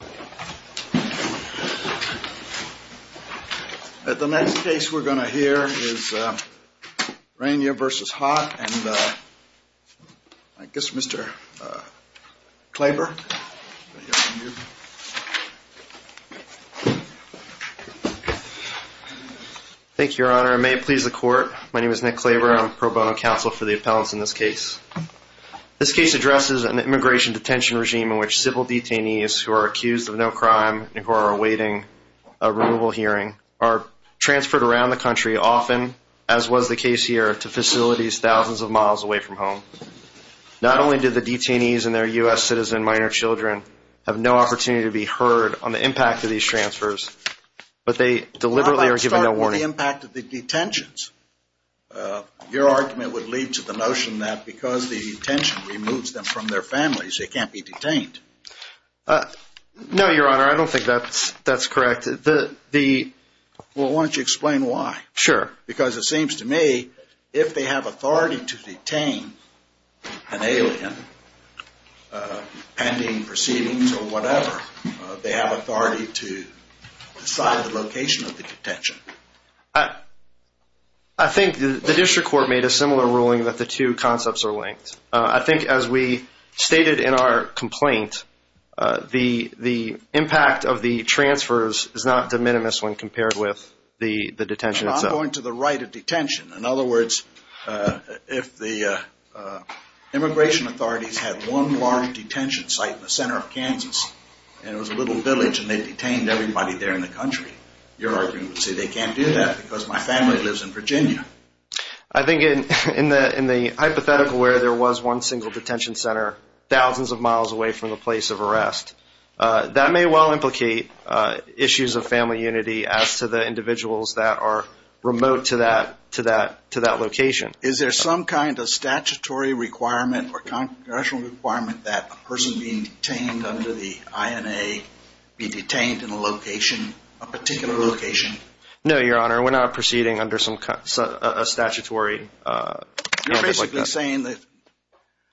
Nick Klaver, Pro Bono Counsel for the Appellants in this case. This case addresses an immigration detention regime in which civil detainees who are accused of no crime and who are awaiting a removal hearing are transferred around the country often, as was the case here, to facilities thousands of miles away from home. Not only do the detainees and their U.S. citizen minor children have no opportunity to be heard on the impact of these transfers, but they deliberately are given no warning. What about the impact of the detentions? Your argument would lead to the notion that because the detention removes them from their families, they can't be detained. No, Your Honor, I don't think that's correct. Well, why don't you explain why? Sure. Because it seems to me, if they have authority to detain an alien, pending proceedings or I think the district court made a similar ruling that the two concepts are linked. I think as we stated in our complaint, the impact of the transfers is not de minimis when compared with the detention itself. I'm going to the right of detention. In other words, if the immigration authorities had one large detention site in the center of Kansas and it was a little village and they I think in the hypothetical where there was one single detention center thousands of miles away from the place of arrest, that may well implicate issues of family unity as to the individuals that are remote to that location. Is there some kind of statutory requirement or congressional requirement that a person being detained under the INA be detained in a particular location? No, Your Honor, we're not proceeding under a statutory mandate like that. You're basically saying that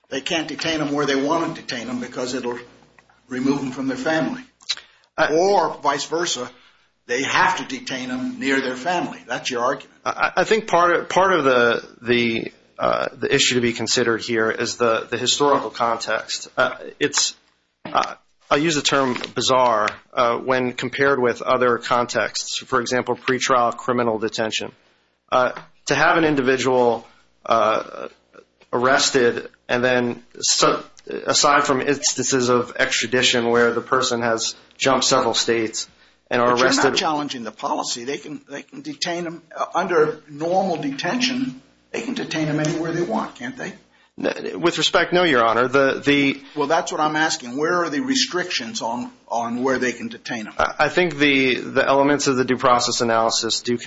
they can't detain them where they want to detain them because it will remove them from their family. Or vice versa, they have to detain them near their family. That's your argument. I think part of the issue to be considered here is the historical context. I use the term bizarre when compared with other contexts. For example, pretrial criminal detention. To have an individual arrested and then aside from instances of extradition where the person has jumped several states and are arrested. But you're not challenging the policy. They can detain them under normal detention. They can detain them anywhere they want, can't they? With respect, no, Your Honor. Well, that's what I'm asking. Where are the restrictions on where they can detain them? I think the elements of the due process analysis do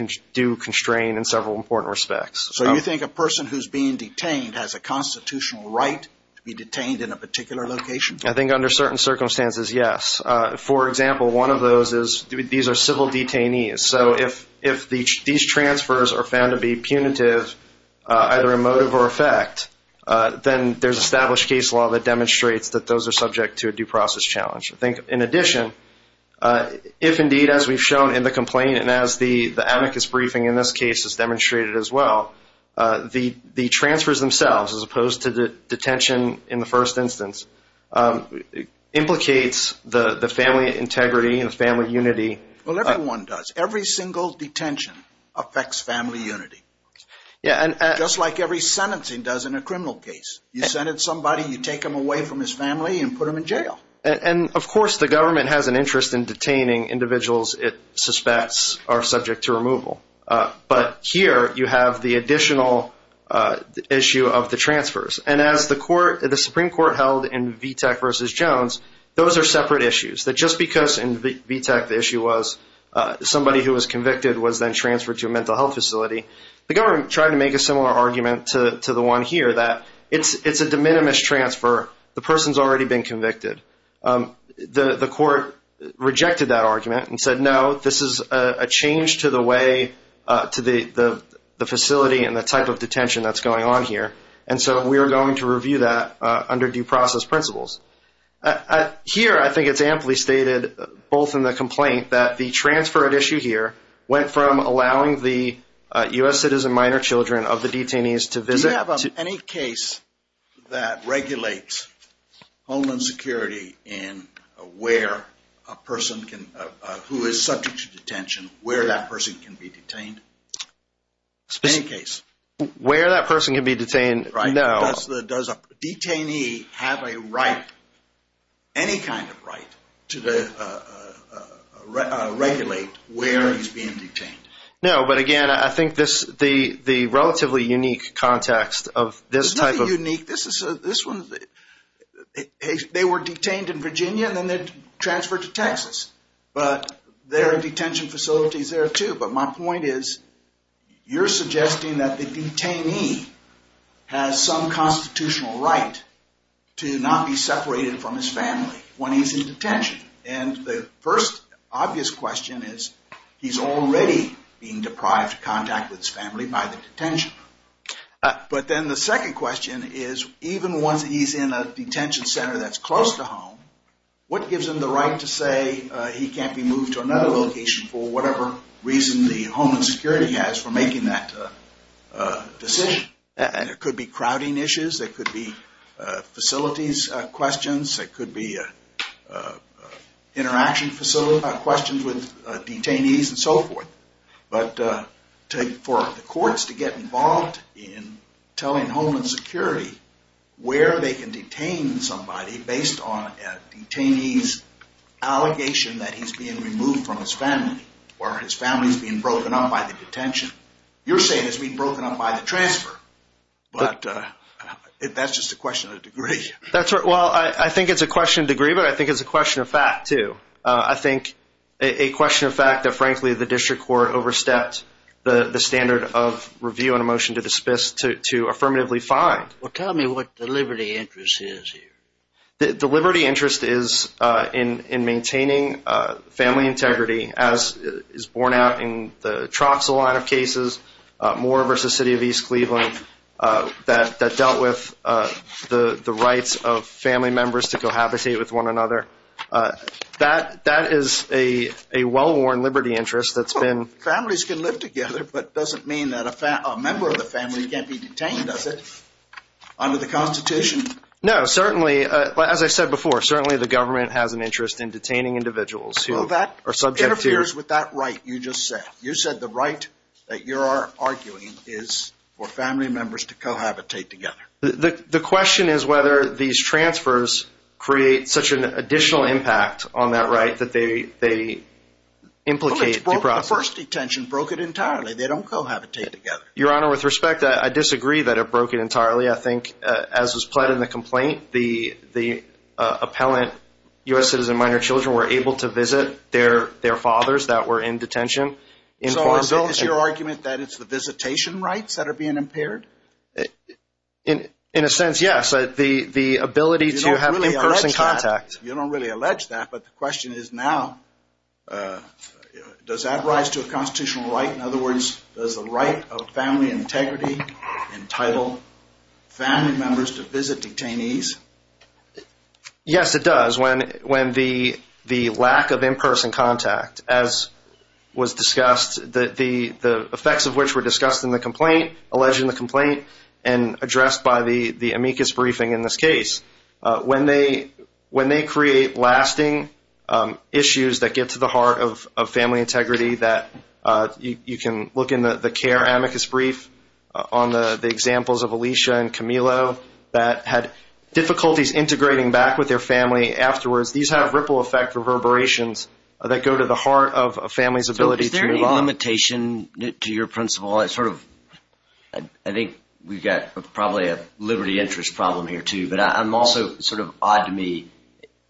constrain in several important respects. So you think a person who's being detained has a constitutional right to be detained in a particular location? I think under certain circumstances, yes. For example, one of those is these are civil detainees. So if these transfers are found to be punitive, either emotive or effect, then there's established case law that demonstrates that those are subject to a due process challenge. In addition, if indeed as we've shown in the complaint and as the amicus briefing in this case has demonstrated as well, the transfers themselves as opposed to the detention in the first instance implicates the family integrity and the family unity. Well, everyone does. Every single detention affects family unity. Just like every sentencing does in a criminal case. You send in somebody, you take them away from his family and put them in jail. And of course the government has an interest in detaining individuals it suspects are subject to removal. But here you have the additional issue of the transfers. And as the Supreme Court held in Vitek v. Jones, those are separate issues. That just because in Vitek the issue was somebody who was convicted was then transferred to a mental health facility, the government tried to make a similar argument to the one here that it's a de minimis transfer. The person's already been convicted. The court rejected that argument and said no, this is a change to the way to the facility and the type of detention that's going on here. And so we are going to review that under due process principles. Here I think it's amply stated both in the complaint that the transfer of issue here went from allowing the U.S. citizen minor children of the detainees to visit. Do you have any case that regulates homeland security in where a person can, who is subject to detention, where that person can be detained? Any case. Where that person can be detained, no. Does a detainee have a right, any kind of right, to regulate where he's being detained? No, but again, I think the relatively unique context of this type of- It's not unique. They were detained in Virginia and then they're transferred to Texas. But there are detention facilities there too. But my point is you're suggesting that the detainee has some constitutional right to not be separated from his family when he's in detention. And the first obvious question is he's already being deprived of contact with his family by the detention. But then the second question is even once he's in a detention center that's close to home, what gives him the right to say he can't be moved to another location for whatever reason the homeland security has for making that decision? It could be crowding issues. It could be facilities questions. It could be interaction questions with detainees and so forth. But for the courts to get involved in telling homeland security where they can detain somebody based on a detainee's allegation that he's being removed from his family or his family's being broken up by the detention, you're saying it's being broken up by the transfer. But that's just a question of degree. Well, I think it's a question of degree, but I think it's a question of fact too. I think a question of fact that, frankly, the district court overstepped the standard of review and a motion to dismiss to affirmatively find. Well, tell me what the liberty interest is here. The liberty interest is in maintaining family integrity, as is borne out in the Troxel line of cases, Moore v. City of East Cleveland, that dealt with the rights of family members to cohabitate with one another. That is a well-worn liberty interest that's been— Does that mean that a member of the family can't be detained, does it, under the Constitution? No, certainly, as I said before, certainly the government has an interest in detaining individuals who are subject to— Well, that interferes with that right you just said. You said the right that you are arguing is for family members to cohabitate together. The question is whether these transfers create such an additional impact on that right that they implicate— The first detention broke it entirely. They don't cohabitate together. Your Honor, with respect, I disagree that it broke it entirely. I think as was pled in the complaint, the appellant U.S. citizen minor children were able to visit their fathers that were in detention. So is your argument that it's the visitation rights that are being impaired? In a sense, yes, the ability to have in-person contact. You don't really allege that, but the question is now, does that rise to a constitutional right? In other words, does the right of family integrity entitle family members to visit detainees? Yes, it does. When the lack of in-person contact, as was discussed, the effects of which were discussed in the complaint, alleged in the complaint, and addressed by the amicus briefing in this case. When they create lasting issues that get to the heart of family integrity, you can look in the care amicus brief on the examples of Alicia and Camilo that had difficulties integrating back with their family afterwards. These have ripple effect reverberations that go to the heart of a family's ability to move on. Is there any limitation to your principle? I think we've got probably a liberty interest problem here too, but I'm also sort of odd to me.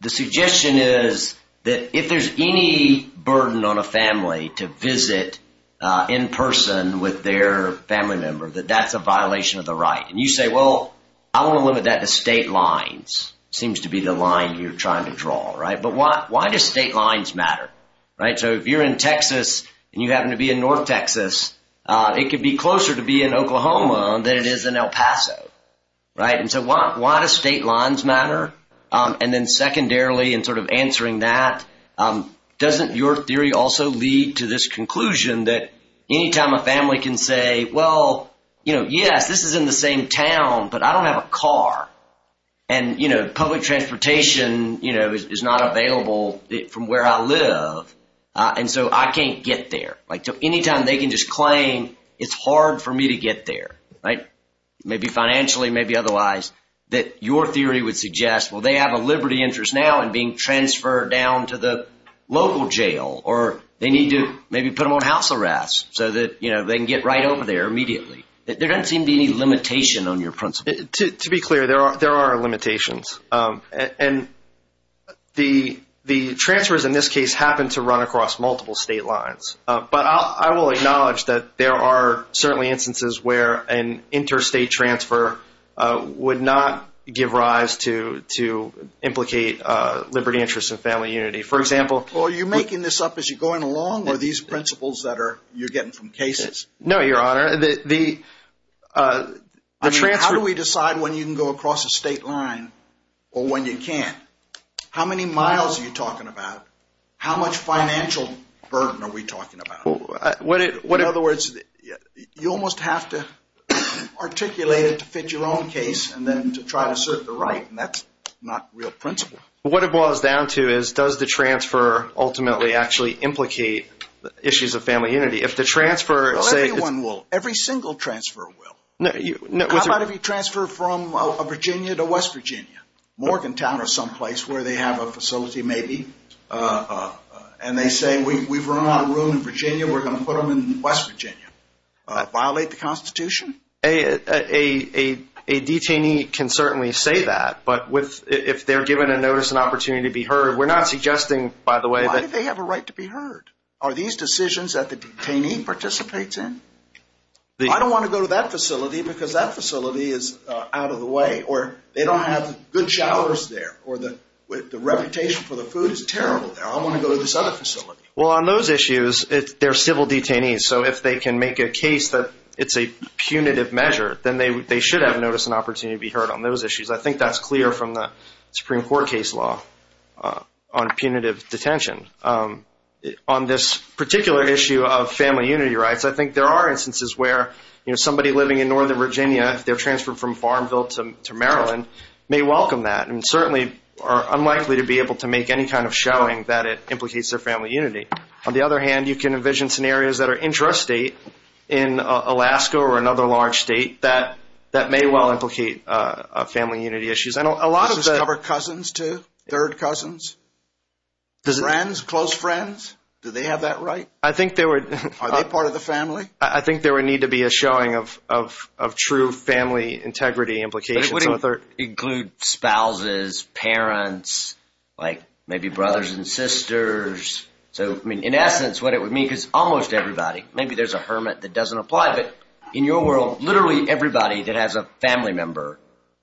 The suggestion is that if there's any burden on a family to visit in person with their family member, that that's a violation of the right. And you say, well, I want to limit that to state lines. Seems to be the line you're trying to draw, right? But why do state lines matter? So if you're in Texas and you happen to be in North Texas, it could be closer to be in Oklahoma than it is in El Paso. And so why does state lines matter? And then secondarily, in sort of answering that, doesn't your theory also lead to this conclusion that any time a family can say, well, yes, this is in the same town, but I don't have a car. And public transportation is not available from where I live, and so I can't get there. So any time they can just claim it's hard for me to get there, maybe financially, maybe otherwise, that your theory would suggest, well, they have a liberty interest now in being transferred down to the local jail, or they need to maybe put them on house arrest so that they can get right over there immediately. There doesn't seem to be any limitation on your principle. To be clear, there are limitations. And the transfers in this case happen to run across multiple state lines. But I will acknowledge that there are certainly instances where an interstate transfer would not give rise to implicate liberty interests and family unity. Are you making this up as you're going along, or are these principles that you're getting from cases? No, Your Honor. I mean, how do we decide when you can go across a state line or when you can't? How many miles are you talking about? How much financial burden are we talking about? In other words, you almost have to articulate it to fit your own case and then to try to serve the right, and that's not real principle. What it boils down to is does the transfer ultimately actually implicate issues of family unity? Well, everyone will. Every single transfer will. How about if you transfer from Virginia to West Virginia? Morgantown or someplace where they have a facility maybe, and they say, we've run out of room in Virginia, we're going to put them in West Virginia. Violate the Constitution? A detainee can certainly say that, but if they're given a notice, an opportunity to be heard, we're not suggesting, by the way, that Why do they have a right to be heard? Are these decisions that the detainee participates in? I don't want to go to that facility because that facility is out of the way, or they don't have good showers there, or the reputation for the food is terrible there. I want to go to this other facility. Well, on those issues, they're civil detainees, so if they can make a case that it's a punitive measure, then they should have notice and opportunity to be heard on those issues. I think that's clear from the Supreme Court case law on punitive detention. On this particular issue of family unity rights, I think there are instances where somebody living in Northern Virginia, if they're transferred from Farmville to Maryland, may welcome that, and certainly are unlikely to be able to make any kind of showing that it implicates their family unity. On the other hand, you can envision scenarios that are intrastate in Alaska or another large state that may well implicate family unity issues. Does this cover cousins too? Third cousins? Friends? Close friends? Do they have that right? Are they part of the family? I think there would need to be a showing of true family integrity implications. But it would include spouses, parents, maybe brothers and sisters. In essence, what it would mean, because almost everybody, maybe there's a hermit that doesn't apply, but in your world, literally everybody that has a family member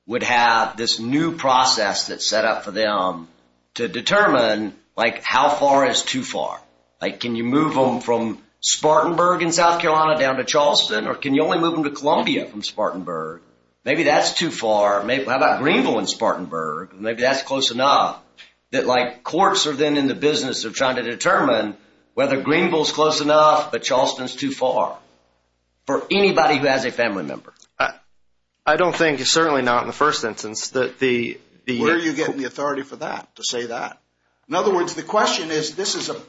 would have this new process that's set up for them to determine how far is too far. Can you move them from Spartanburg in South Carolina down to Charleston, or can you only move them to Columbia from Spartanburg? Maybe that's too far. How about Greenville and Spartanburg? Maybe that's close enough that courts are then in the business of trying to determine whether Greenville's close enough, but Charleston's too far for anybody who has a family member. I don't think, certainly not in the first instance. Where are you getting the authority for that, to say that? In other words, the question is,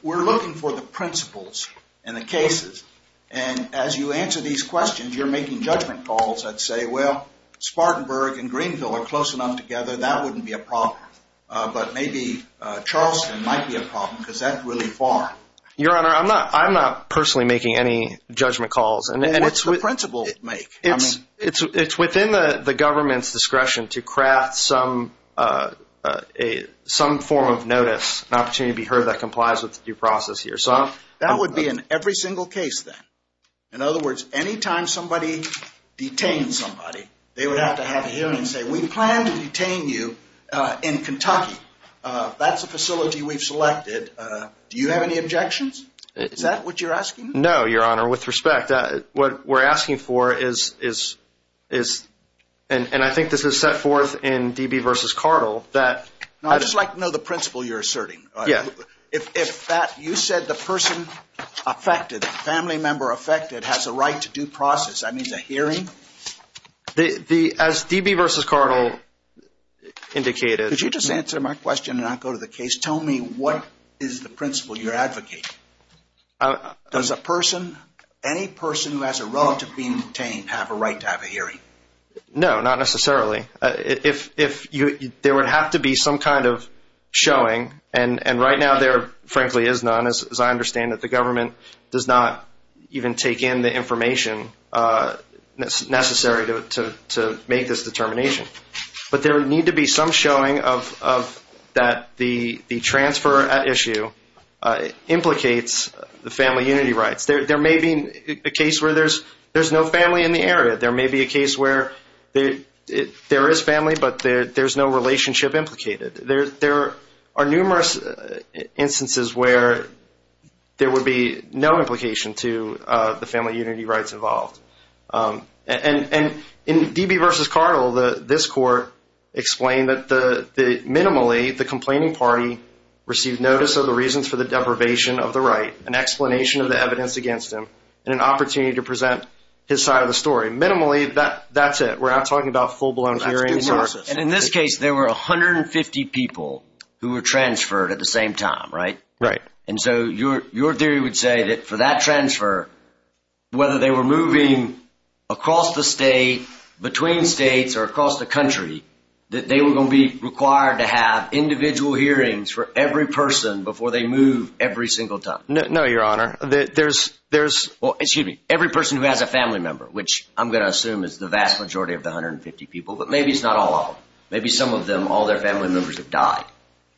we're looking for the principles and the cases. And as you answer these questions, you're making judgment calls that say, well, Spartanburg and Greenville are close enough together, that wouldn't be a problem. But maybe Charleston might be a problem, because that's really far. Your Honor, I'm not personally making any judgment calls. Then what's the principle you'd make? It's within the government's discretion to craft some form of notice, an opportunity to be heard that complies with the due process here. That would be in every single case then. In other words, any time somebody detains somebody, they would have to have a hearing and say, we plan to detain you in Kentucky. That's a facility we've selected. Do you have any objections? Is that what you're asking? No, Your Honor. With respect, what we're asking for is, and I think this is set forth in D.B. v. Cardle, that— No, I'd just like to know the principle you're asserting. Yeah. If you said the person affected, the family member affected, has a right to due process, that means a hearing? As D.B. v. Cardle indicated— Could you just answer my question and not go to the case? Tell me what is the principle you're advocating? Does a person, any person who has a relative being detained, have a right to have a hearing? No, not necessarily. If there would have to be some kind of showing, and right now there frankly is none, as I understand it, the government does not even take in the information necessary to make this determination. But there would need to be some showing that the transfer at issue implicates the family unity rights. There may be a case where there's no family in the area. There may be a case where there is family, but there's no relationship implicated. There are numerous instances where there would be no implication to the family unity rights involved. And in D.B. v. Cardle, this court explained that minimally the complaining party received notice of the reasons for the deprivation of the right, an explanation of the evidence against him, and an opportunity to present his side of the story. Minimally, that's it. We're not talking about full-blown hearings. And in this case, there were 150 people who were transferred at the same time, right? Right. And so your theory would say that for that transfer, whether they were moving across the state, between states, or across the country, that they were going to be required to have individual hearings for every person before they move every single time. No, Your Honor. Well, excuse me. Every person who has a family member, which I'm going to assume is the vast majority of the 150 people, but maybe it's not all of them. Maybe some of them, all their family members have died.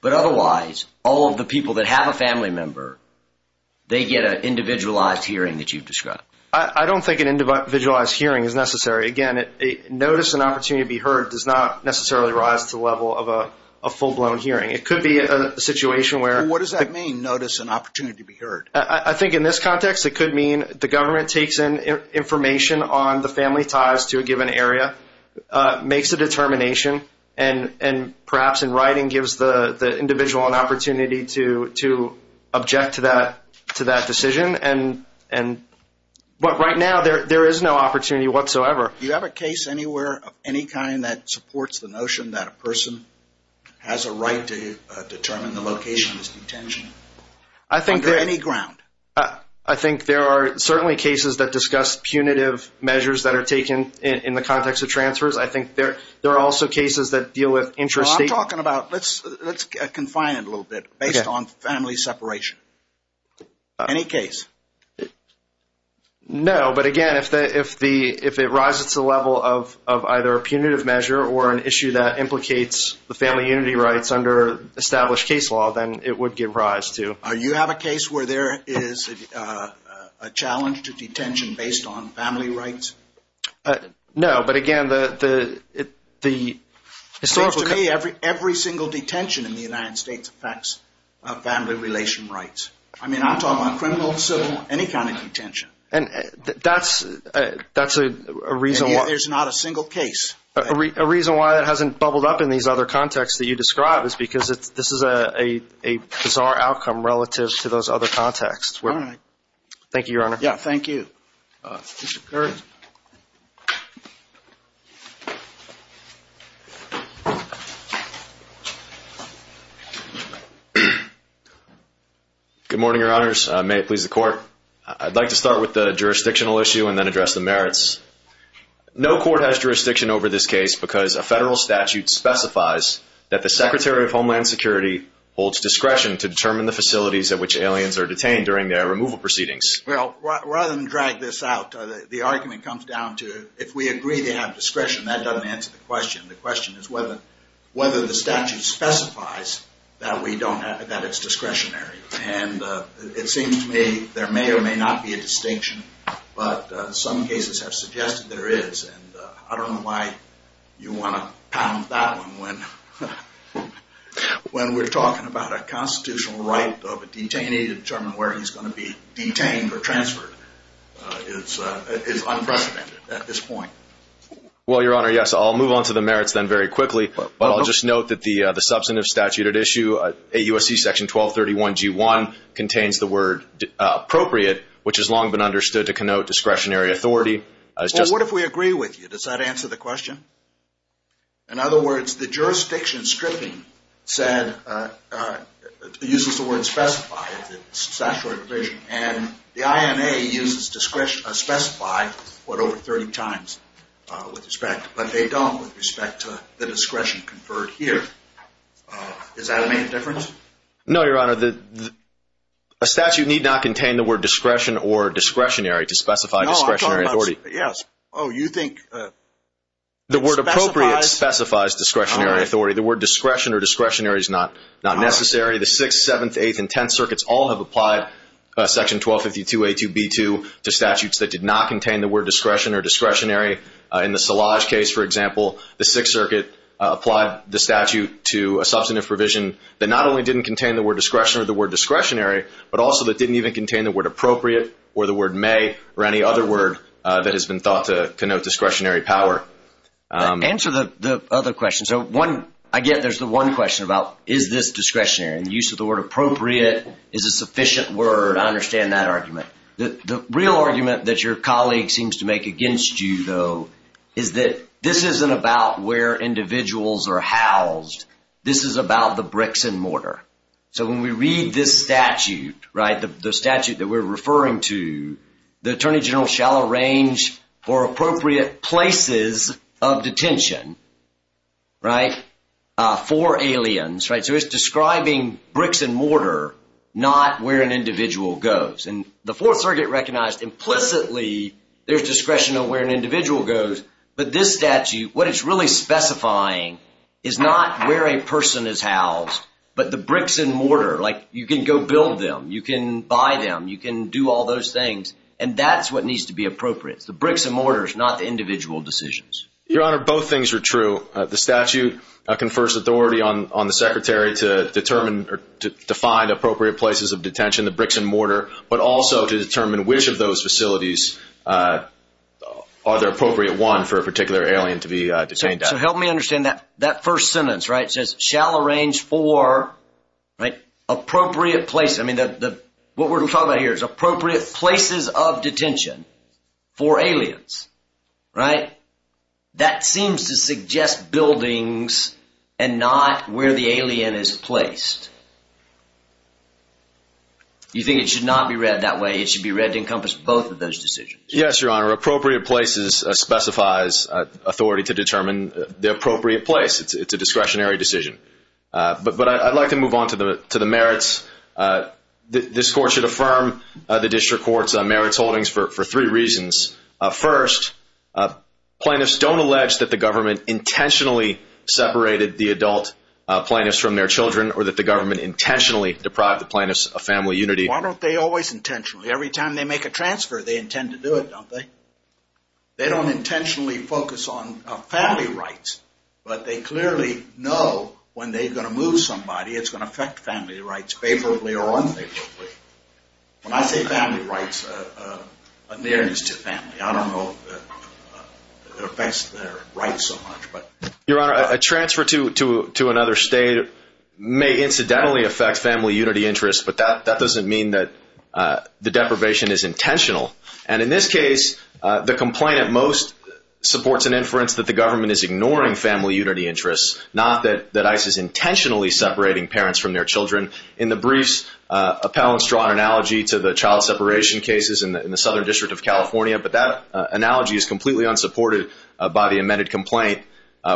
But otherwise, all of the people that have a family member, they get an individualized hearing that you've described. I don't think an individualized hearing is necessary. Again, notice and opportunity to be heard does not necessarily rise to the level of a full-blown hearing. It could be a situation where— What does that mean, notice and opportunity to be heard? I think in this context, it could mean the government takes in information on the family ties to a given area, makes a determination, and perhaps in writing gives the individual an opportunity to object to that decision. But right now, there is no opportunity whatsoever. Do you have a case anywhere of any kind that supports the notion that a person has a right to determine the location of his detention? Under any ground? I think there are certainly cases that discuss punitive measures that are taken in the context of transfers. I think there are also cases that deal with interstate— I'm talking about—let's confine it a little bit based on family separation. Any case? No, but again, if it rises to the level of either a punitive measure or an issue that implicates the family unity rights under established case law, then it would give rise to— Do you have a case where there is a challenge to detention based on family rights? No, but again, the historical— It seems to me every single detention in the United States affects family relation rights. I mean, I'm talking about criminal, civil, any kind of detention. And that's a reason why— There's not a single case. A reason why that hasn't bubbled up in these other contexts that you describe is because this is a bizarre outcome relative to those other contexts. All right. Thank you, Your Honor. Yeah, thank you. Mr. Kirk. Good morning, Your Honors. May it please the Court. No court has jurisdiction over this case because a federal statute specifies that the Secretary of Homeland Security holds discretion to determine the facilities at which aliens are detained during their removal proceedings. Well, rather than drag this out, the argument comes down to if we agree to have discretion, that doesn't answer the question. The question is whether the statute specifies that we don't have—that it's discretionary. And it seems to me there may or may not be a distinction, but some cases have suggested there is. And I don't know why you want to pound that one when we're talking about a constitutional right of a detainee to determine where he's going to be detained or transferred. It's unprecedented at this point. Well, Your Honor, yes. I'll move on to the merits then very quickly. But I'll just note that the substantive statute at issue, AUSC Section 1231G1, contains the word appropriate, which has long been understood to connote discretionary authority. Well, what if we agree with you? In other words, the jurisdiction stripping said—uses the word specify in the statutory provision. And the INA uses specify what, over 30 times with respect. But they don't with respect to the discretion conferred here. Does that make a difference? No, Your Honor. A statute need not contain the word discretion or discretionary to specify discretionary authority. No, I'm talking about—yes. Oh, you think— The word appropriate specifies discretionary authority. The word discretion or discretionary is not necessary. The Sixth, Seventh, Eighth, and Tenth Circuits all have applied Section 1252A2B2 to statutes that did not contain the word discretion or discretionary. In the Szilagyi case, for example, the Sixth Circuit applied the statute to a substantive provision that not only didn't contain the word discretion or the word discretionary, but also that didn't even contain the word appropriate or the word may or any other word that has been thought to connote discretionary power. Answer the other question. So one—I get there's the one question about is this discretionary. And the use of the word appropriate is a sufficient word. I understand that argument. The real argument that your colleague seems to make against you, though, is that this isn't about where individuals are housed. This is about the bricks and mortar. So when we read this statute, right, the statute that we're referring to, the Attorney General shall arrange for appropriate places of detention, right, for aliens, right? So it's describing bricks and mortar, not where an individual goes. And the Fourth Circuit recognized implicitly there's discretion of where an individual goes. But this statute, what it's really specifying is not where a person is housed, but the bricks and mortar. Like, you can go build them. You can buy them. You can do all those things. And that's what needs to be appropriate. It's the bricks and mortars, not the individual decisions. Your Honor, both things are true. The statute confers authority on the Secretary to determine or define appropriate places of detention, the bricks and mortar, but also to determine which of those facilities are the appropriate one for a particular alien to be detained at. So help me understand that. That first sentence, right, says shall arrange for, right, appropriate place. I mean, what we're talking about here is appropriate places of detention for aliens, right? That seems to suggest buildings and not where the alien is placed. You think it should not be read that way? It should be read to encompass both of those decisions? Yes, Your Honor. Appropriate places specifies authority to determine the appropriate place. It's a discretionary decision. But I'd like to move on to the merits. This Court should affirm the District Court's merits holdings for three reasons. First, plaintiffs don't allege that the government intentionally separated the adult plaintiffs from their children or that the government intentionally deprived the plaintiffs of family unity. Why don't they always intentionally? Every time they make a transfer, they intend to do it, don't they? They don't intentionally focus on family rights, but they clearly know when they're going to move somebody, it's going to affect family rights favorably or unfavorably. When I say family rights, a nearness to family, I don't know if it affects their rights so much. Your Honor, a transfer to another state may incidentally affect family unity interests, but that doesn't mean that the deprivation is intentional. And in this case, the complaint at most supports an inference that the government is ignoring family unity interests, not that ICE is intentionally separating parents from their children. In the briefs, appellants draw an analogy to the child separation cases in the Southern District of California, but that analogy is completely unsupported by the amended complaint,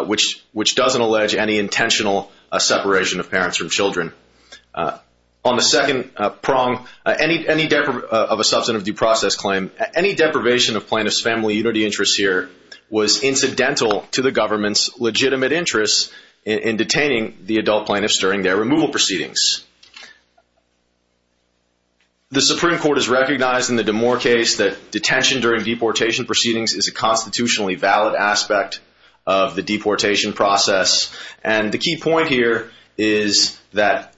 which doesn't allege any intentional separation of parents from children. On the second prong of a substantive due process claim, any deprivation of plaintiffs' family unity interests here was incidental to the government's legitimate interest in detaining the adult plaintiffs during their removal proceedings. The Supreme Court has recognized in the DeMoor case that detention during deportation proceedings is a constitutionally valid aspect of the deportation process. And the key point here is that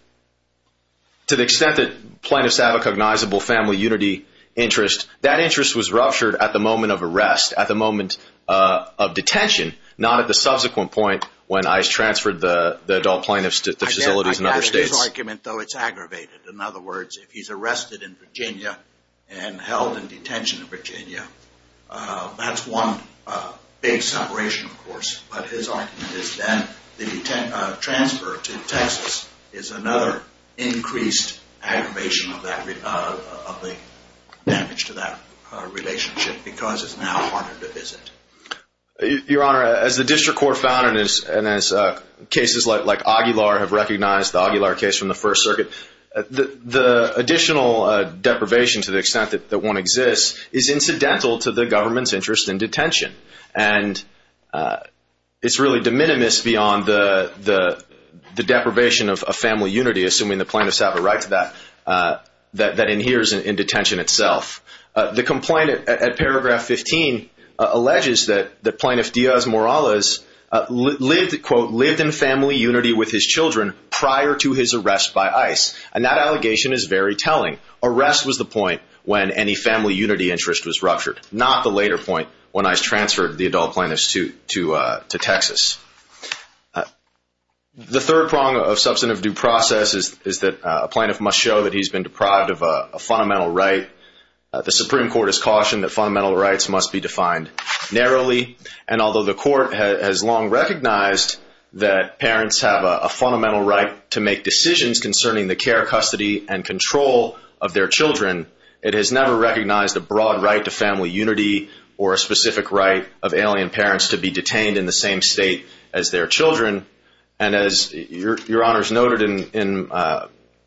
to the extent that plaintiffs have a cognizable family unity interest, that interest was ruptured at the moment of arrest, at the moment of detention, not at the subsequent point when ICE transferred the adult plaintiffs to facilities in other states. His argument, though, it's aggravated. In other words, if he's arrested in Virginia and held in detention in Virginia, that's one big separation, of course. But his argument is that the transfer to Texas is another increased aggravation of the damage to that relationship because it's now harder to visit. Your Honor, as the District Court found and as cases like Aguilar have recognized, the Aguilar case from the First Circuit, the additional deprivation to the extent that one exists is incidental to the government's interest in detention. And it's really de minimis beyond the deprivation of family unity, assuming the plaintiffs have a right to that, that inheres in detention itself. The complaint at paragraph 15 alleges that Plaintiff Diaz-Morales, quote, lived in family unity with his children prior to his arrest by ICE. And that allegation is very telling. Arrest was the point when any family unity interest was ruptured, not the later point when ICE transferred the adult plaintiffs to Texas. The third prong of substantive due process is that a plaintiff must show that he's been deprived of a fundamental right. The Supreme Court has cautioned that fundamental rights must be defined narrowly. And although the Court has long recognized that parents have a fundamental right to make decisions concerning the care, custody, and control of their children, it has never recognized a broad right to family unity or a specific right of alien parents to be detained in the same state as their children. And as Your Honors noted during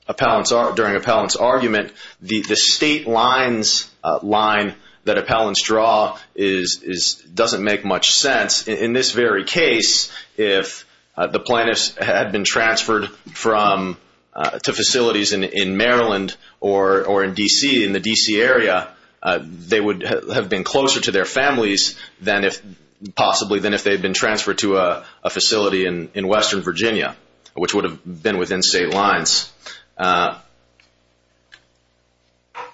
Appellant's argument, the state lines line that Appellants draw doesn't make much sense. In this very case, if the plaintiffs had been transferred to facilities in Maryland or in D.C., in the D.C. area, they would have been closer to their families possibly than if they had been transferred to a facility in western Virginia, which would have been within state lines.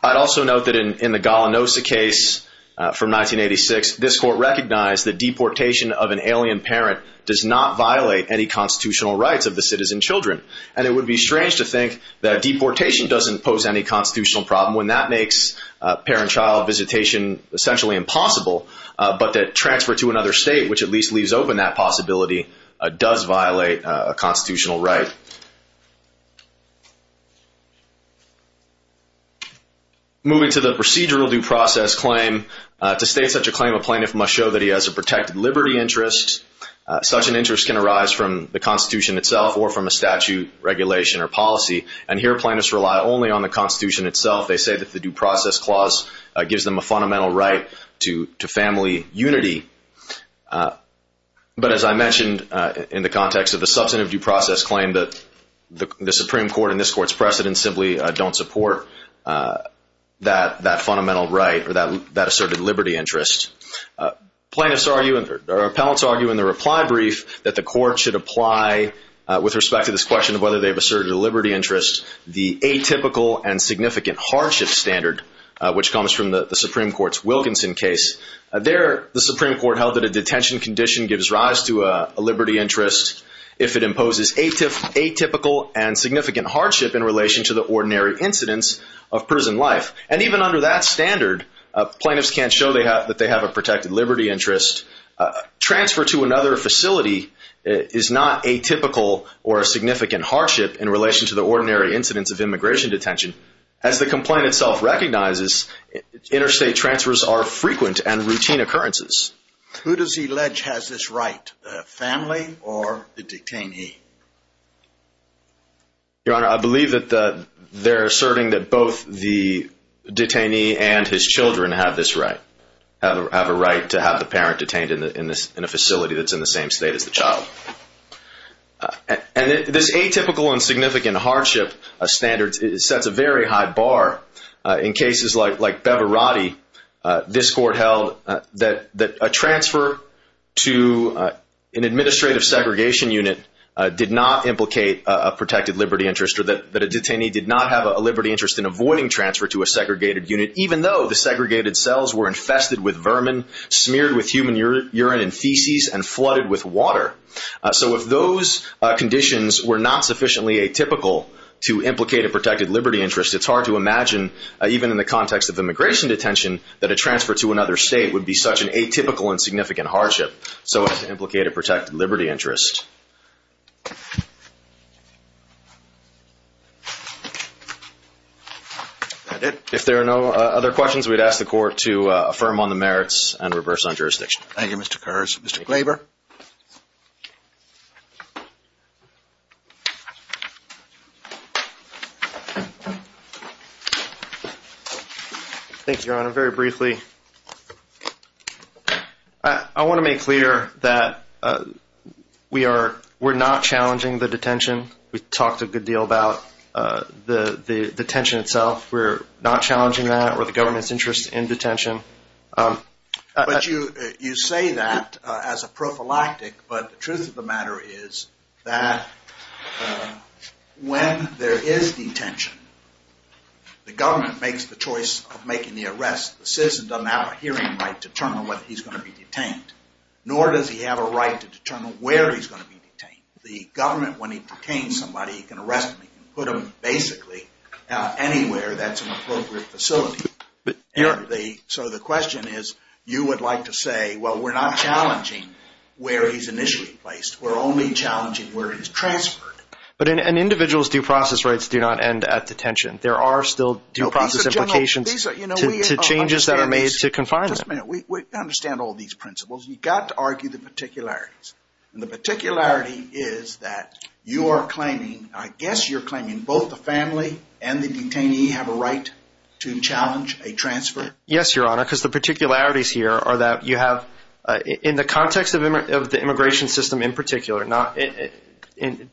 I'd also note that in the Golanosa case from 1986, this Court recognized that deportation of an alien parent does not violate any constitutional rights of the citizen children. And it would be strange to think that deportation doesn't pose any constitutional problem when that makes parent-child visitation essentially impossible, but that transfer to another state, which at least leaves open that possibility, does violate a constitutional right. Moving to the procedural due process claim, to state such a claim, a plaintiff must show that he has a protected liberty interest. Such an interest can arise from the Constitution itself or from a statute, regulation, or policy. And here plaintiffs rely only on the Constitution itself. They say that the due process clause gives them a fundamental right to family unity. But as I mentioned in the context of the substantive due process claim, the Supreme Court and this Court's precedent simply don't support that fundamental right or that asserted liberty interest. Appellants argue in the reply brief that the Court should apply, with respect to this question of whether they've asserted a liberty interest, the atypical and significant hardship standard, which comes from the Supreme Court's Wilkinson case. There, the Supreme Court held that a detention condition gives rise to a liberty interest if it imposes atypical and significant hardship in relation to the ordinary incidence of prison life. And even under that standard, plaintiffs can't show that they have a protected liberty interest. Transfer to another facility is not atypical or a significant hardship in relation to the ordinary incidence of immigration detention. As the complaint itself recognizes, interstate transfers are frequent and routine occurrences. Who does he allege has this right, the family or the detainee? Your Honor, I believe that they're asserting that both the detainee and his children have this right, have a right to have the parent detained in a facility that's in the same state as the child. And this atypical and significant hardship standard sets a very high bar. In cases like Bevarati, this court held that a transfer to an administrative segregation unit did not implicate a protected liberty interest, or that a detainee did not have a liberty interest in avoiding transfer to a segregated unit, even though the segregated cells were infested with vermin, smeared with human urine and feces, and flooded with water. So if those conditions were not sufficiently atypical to implicate a protected liberty interest, it's hard to imagine, even in the context of immigration detention, that a transfer to another state would be such an atypical and significant hardship so as to implicate a protected liberty interest. If there are no other questions, we'd ask the Court to affirm on the merits and reverse on jurisdiction. Thank you, Mr. Kerr. Mr. Glaber? Thank you, Your Honor. Very briefly, I want to make clear that we're not challenging the detention. We've talked a good deal about the detention itself. We're not challenging that or the government's interest in detention. But you say that as a prophylactic, but the truth of the matter is that when there is detention, the government makes the choice of making the arrest. The citizen doesn't have a hearing right to determine whether he's going to be detained, nor does he have a right to determine where he's going to be detained. The government, when he detains somebody, he can arrest them. He can put them basically anywhere that's an appropriate facility. So the question is, you would like to say, well, we're not challenging where he's initially placed. We're only challenging where he's transferred. But an individual's due process rights do not end at detention. There are still due process implications to changes that are made to confine them. Just a minute. We understand all these principles. You've got to argue the particularities. And the particularity is that you are claiming, I guess you're claiming, both the family and the detainee have a right to challenge a transfer? Yes, Your Honor, because the particularities here are that you have, in the context of the immigration system in particular, in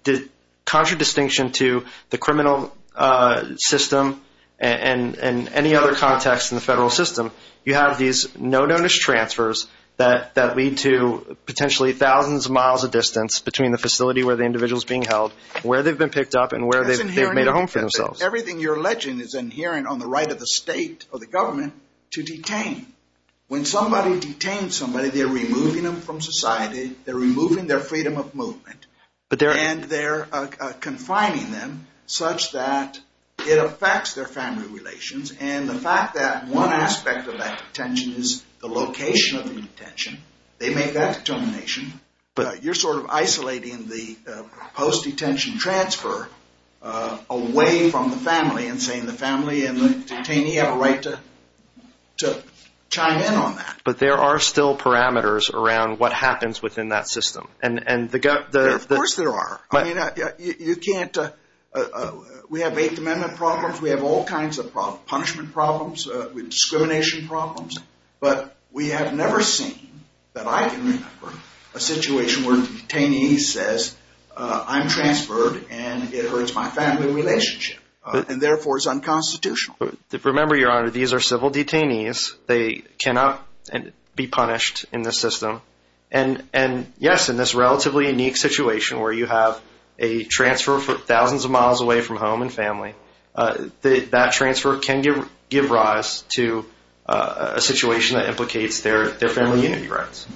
contradistinction to the criminal system and any other context in the federal system, you have these no-notice transfers that lead to potentially thousands of miles of distance between the facility where the individual's being held, where they've been picked up, and where they've made a home for themselves. Everything you're alleging is inherent on the right of the state or the government to detain. When somebody detains somebody, they're removing them from society. They're removing their freedom of movement. And they're confining them such that it affects their family relations. And the fact that one aspect of that detention is the location of the detention. They make that determination. You're sort of isolating the post-detention transfer away from the family and saying the family and the detainee have a right to chime in on that. But there are still parameters around what happens within that system. Of course there are. We have Eighth Amendment problems. We have all kinds of punishment problems, discrimination problems. But we have never seen that I can remember a situation where the detainee says, I'm transferred and it hurts my family relationship and therefore is unconstitutional. Remember, Your Honor, these are civil detainees. They cannot be punished in this system. And, yes, in this relatively unique situation where you have a transfer for thousands of miles away from home and family, that transfer can give rise to a situation that implicates their family unity rights.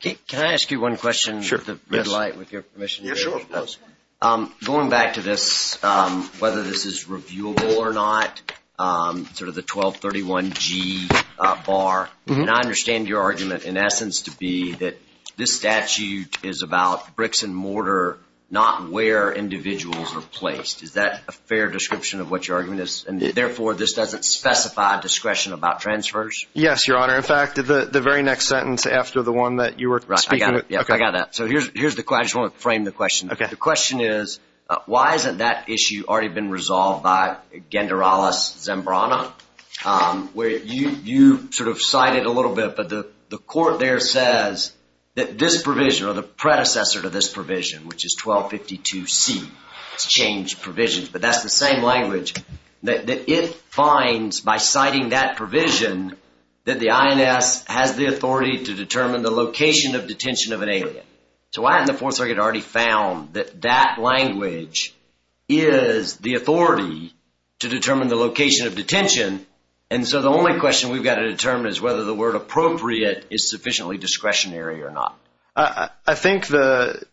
Can I ask you one question? Sure. Going back to this, whether this is reviewable or not, sort of the 1231G bar, and I understand your argument in essence to be that this statute is about bricks and mortar, not where individuals are placed. Is that a fair description of what your argument is? And, therefore, this doesn't specify discretion about transfers? Yes, Your Honor. In fact, the very next sentence after the one that you were speaking of. I got it. I got that. So here's the question. I just want to frame the question. Okay. The question is, why hasn't that issue already been resolved by Gendarales Zembrana? You sort of cited a little bit, but the court there says that this provision, or the predecessor to this provision, which is 1252C, it's changed provisions, but that's the same language that it finds by citing that provision that the INS has the authority to determine the location of detention of an alien. So why hasn't the Fourth Circuit already found that that language is the authority to determine the location of detention? And so the only question we've got to determine is whether the word appropriate is sufficiently discretionary or not. I think the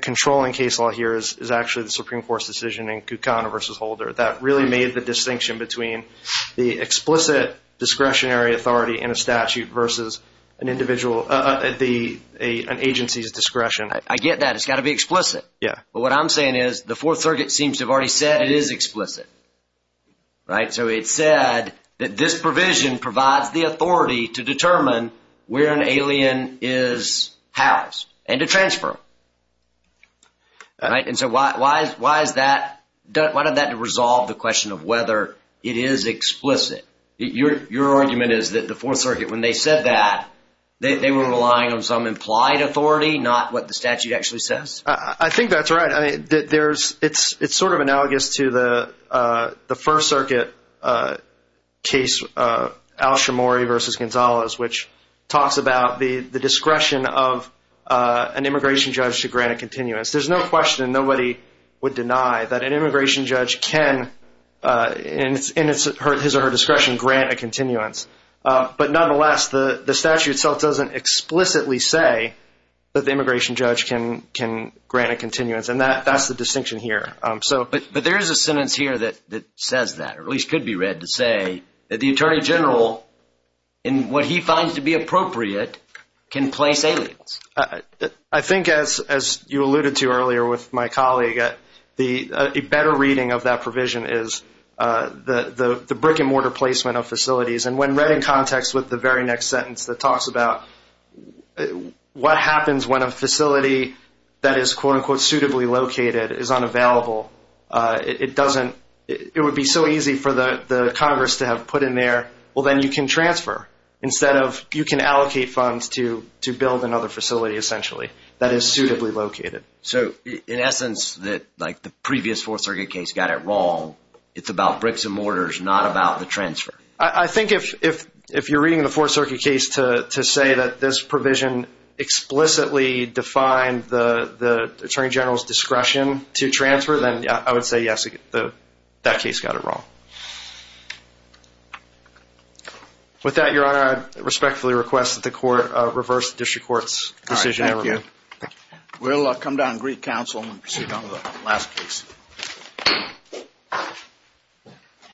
controlling case law here is actually the Supreme Court's decision in Kucana versus Holder that really made the distinction between the explicit discretionary authority in a statute versus an agency's discretion. I get that. It's got to be explicit. Yeah. But what I'm saying is the Fourth Circuit seems to have already said it is explicit. Right? So it said that this provision provides the authority to determine where an alien is housed and to transfer them. Right? And so why is that? Why doesn't that resolve the question of whether it is explicit? Your argument is that the Fourth Circuit, when they said that, they were relying on some implied authority, not what the statute actually says? I think that's right. I mean, it's sort of analogous to the First Circuit case, Al Shimori versus Gonzalez, which talks about the discretion of an immigration judge to grant a continuance. There's no question, nobody would deny, that an immigration judge can, in his or her discretion, grant a continuance. But nonetheless, the statute itself doesn't explicitly say that the immigration judge can grant a continuance, and that's the distinction here. But there is a sentence here that says that, or at least could be read to say, that the Attorney General, in what he finds to be appropriate, can place aliens. I think, as you alluded to earlier with my colleague, a better reading of that provision is the brick-and-mortar placement of facilities. And when read in context with the very next sentence that talks about what happens when a facility that is, quote-unquote, suitably located is unavailable, it would be so easy for the Congress to have put in there, well, then you can transfer, instead of you can allocate funds to build another facility, essentially, that is suitably located. So, in essence, like the previous Fourth Circuit case got it wrong. It's about bricks and mortars, not about the transfer. I think if you're reading the Fourth Circuit case to say that this provision explicitly defined the Attorney General's discretion to transfer, then I would say, yes, that case got it wrong. With that, Your Honor, I respectfully request that the Court reverse the District Court's decision. Thank you. We'll come down to Greek Council and proceed on the last case.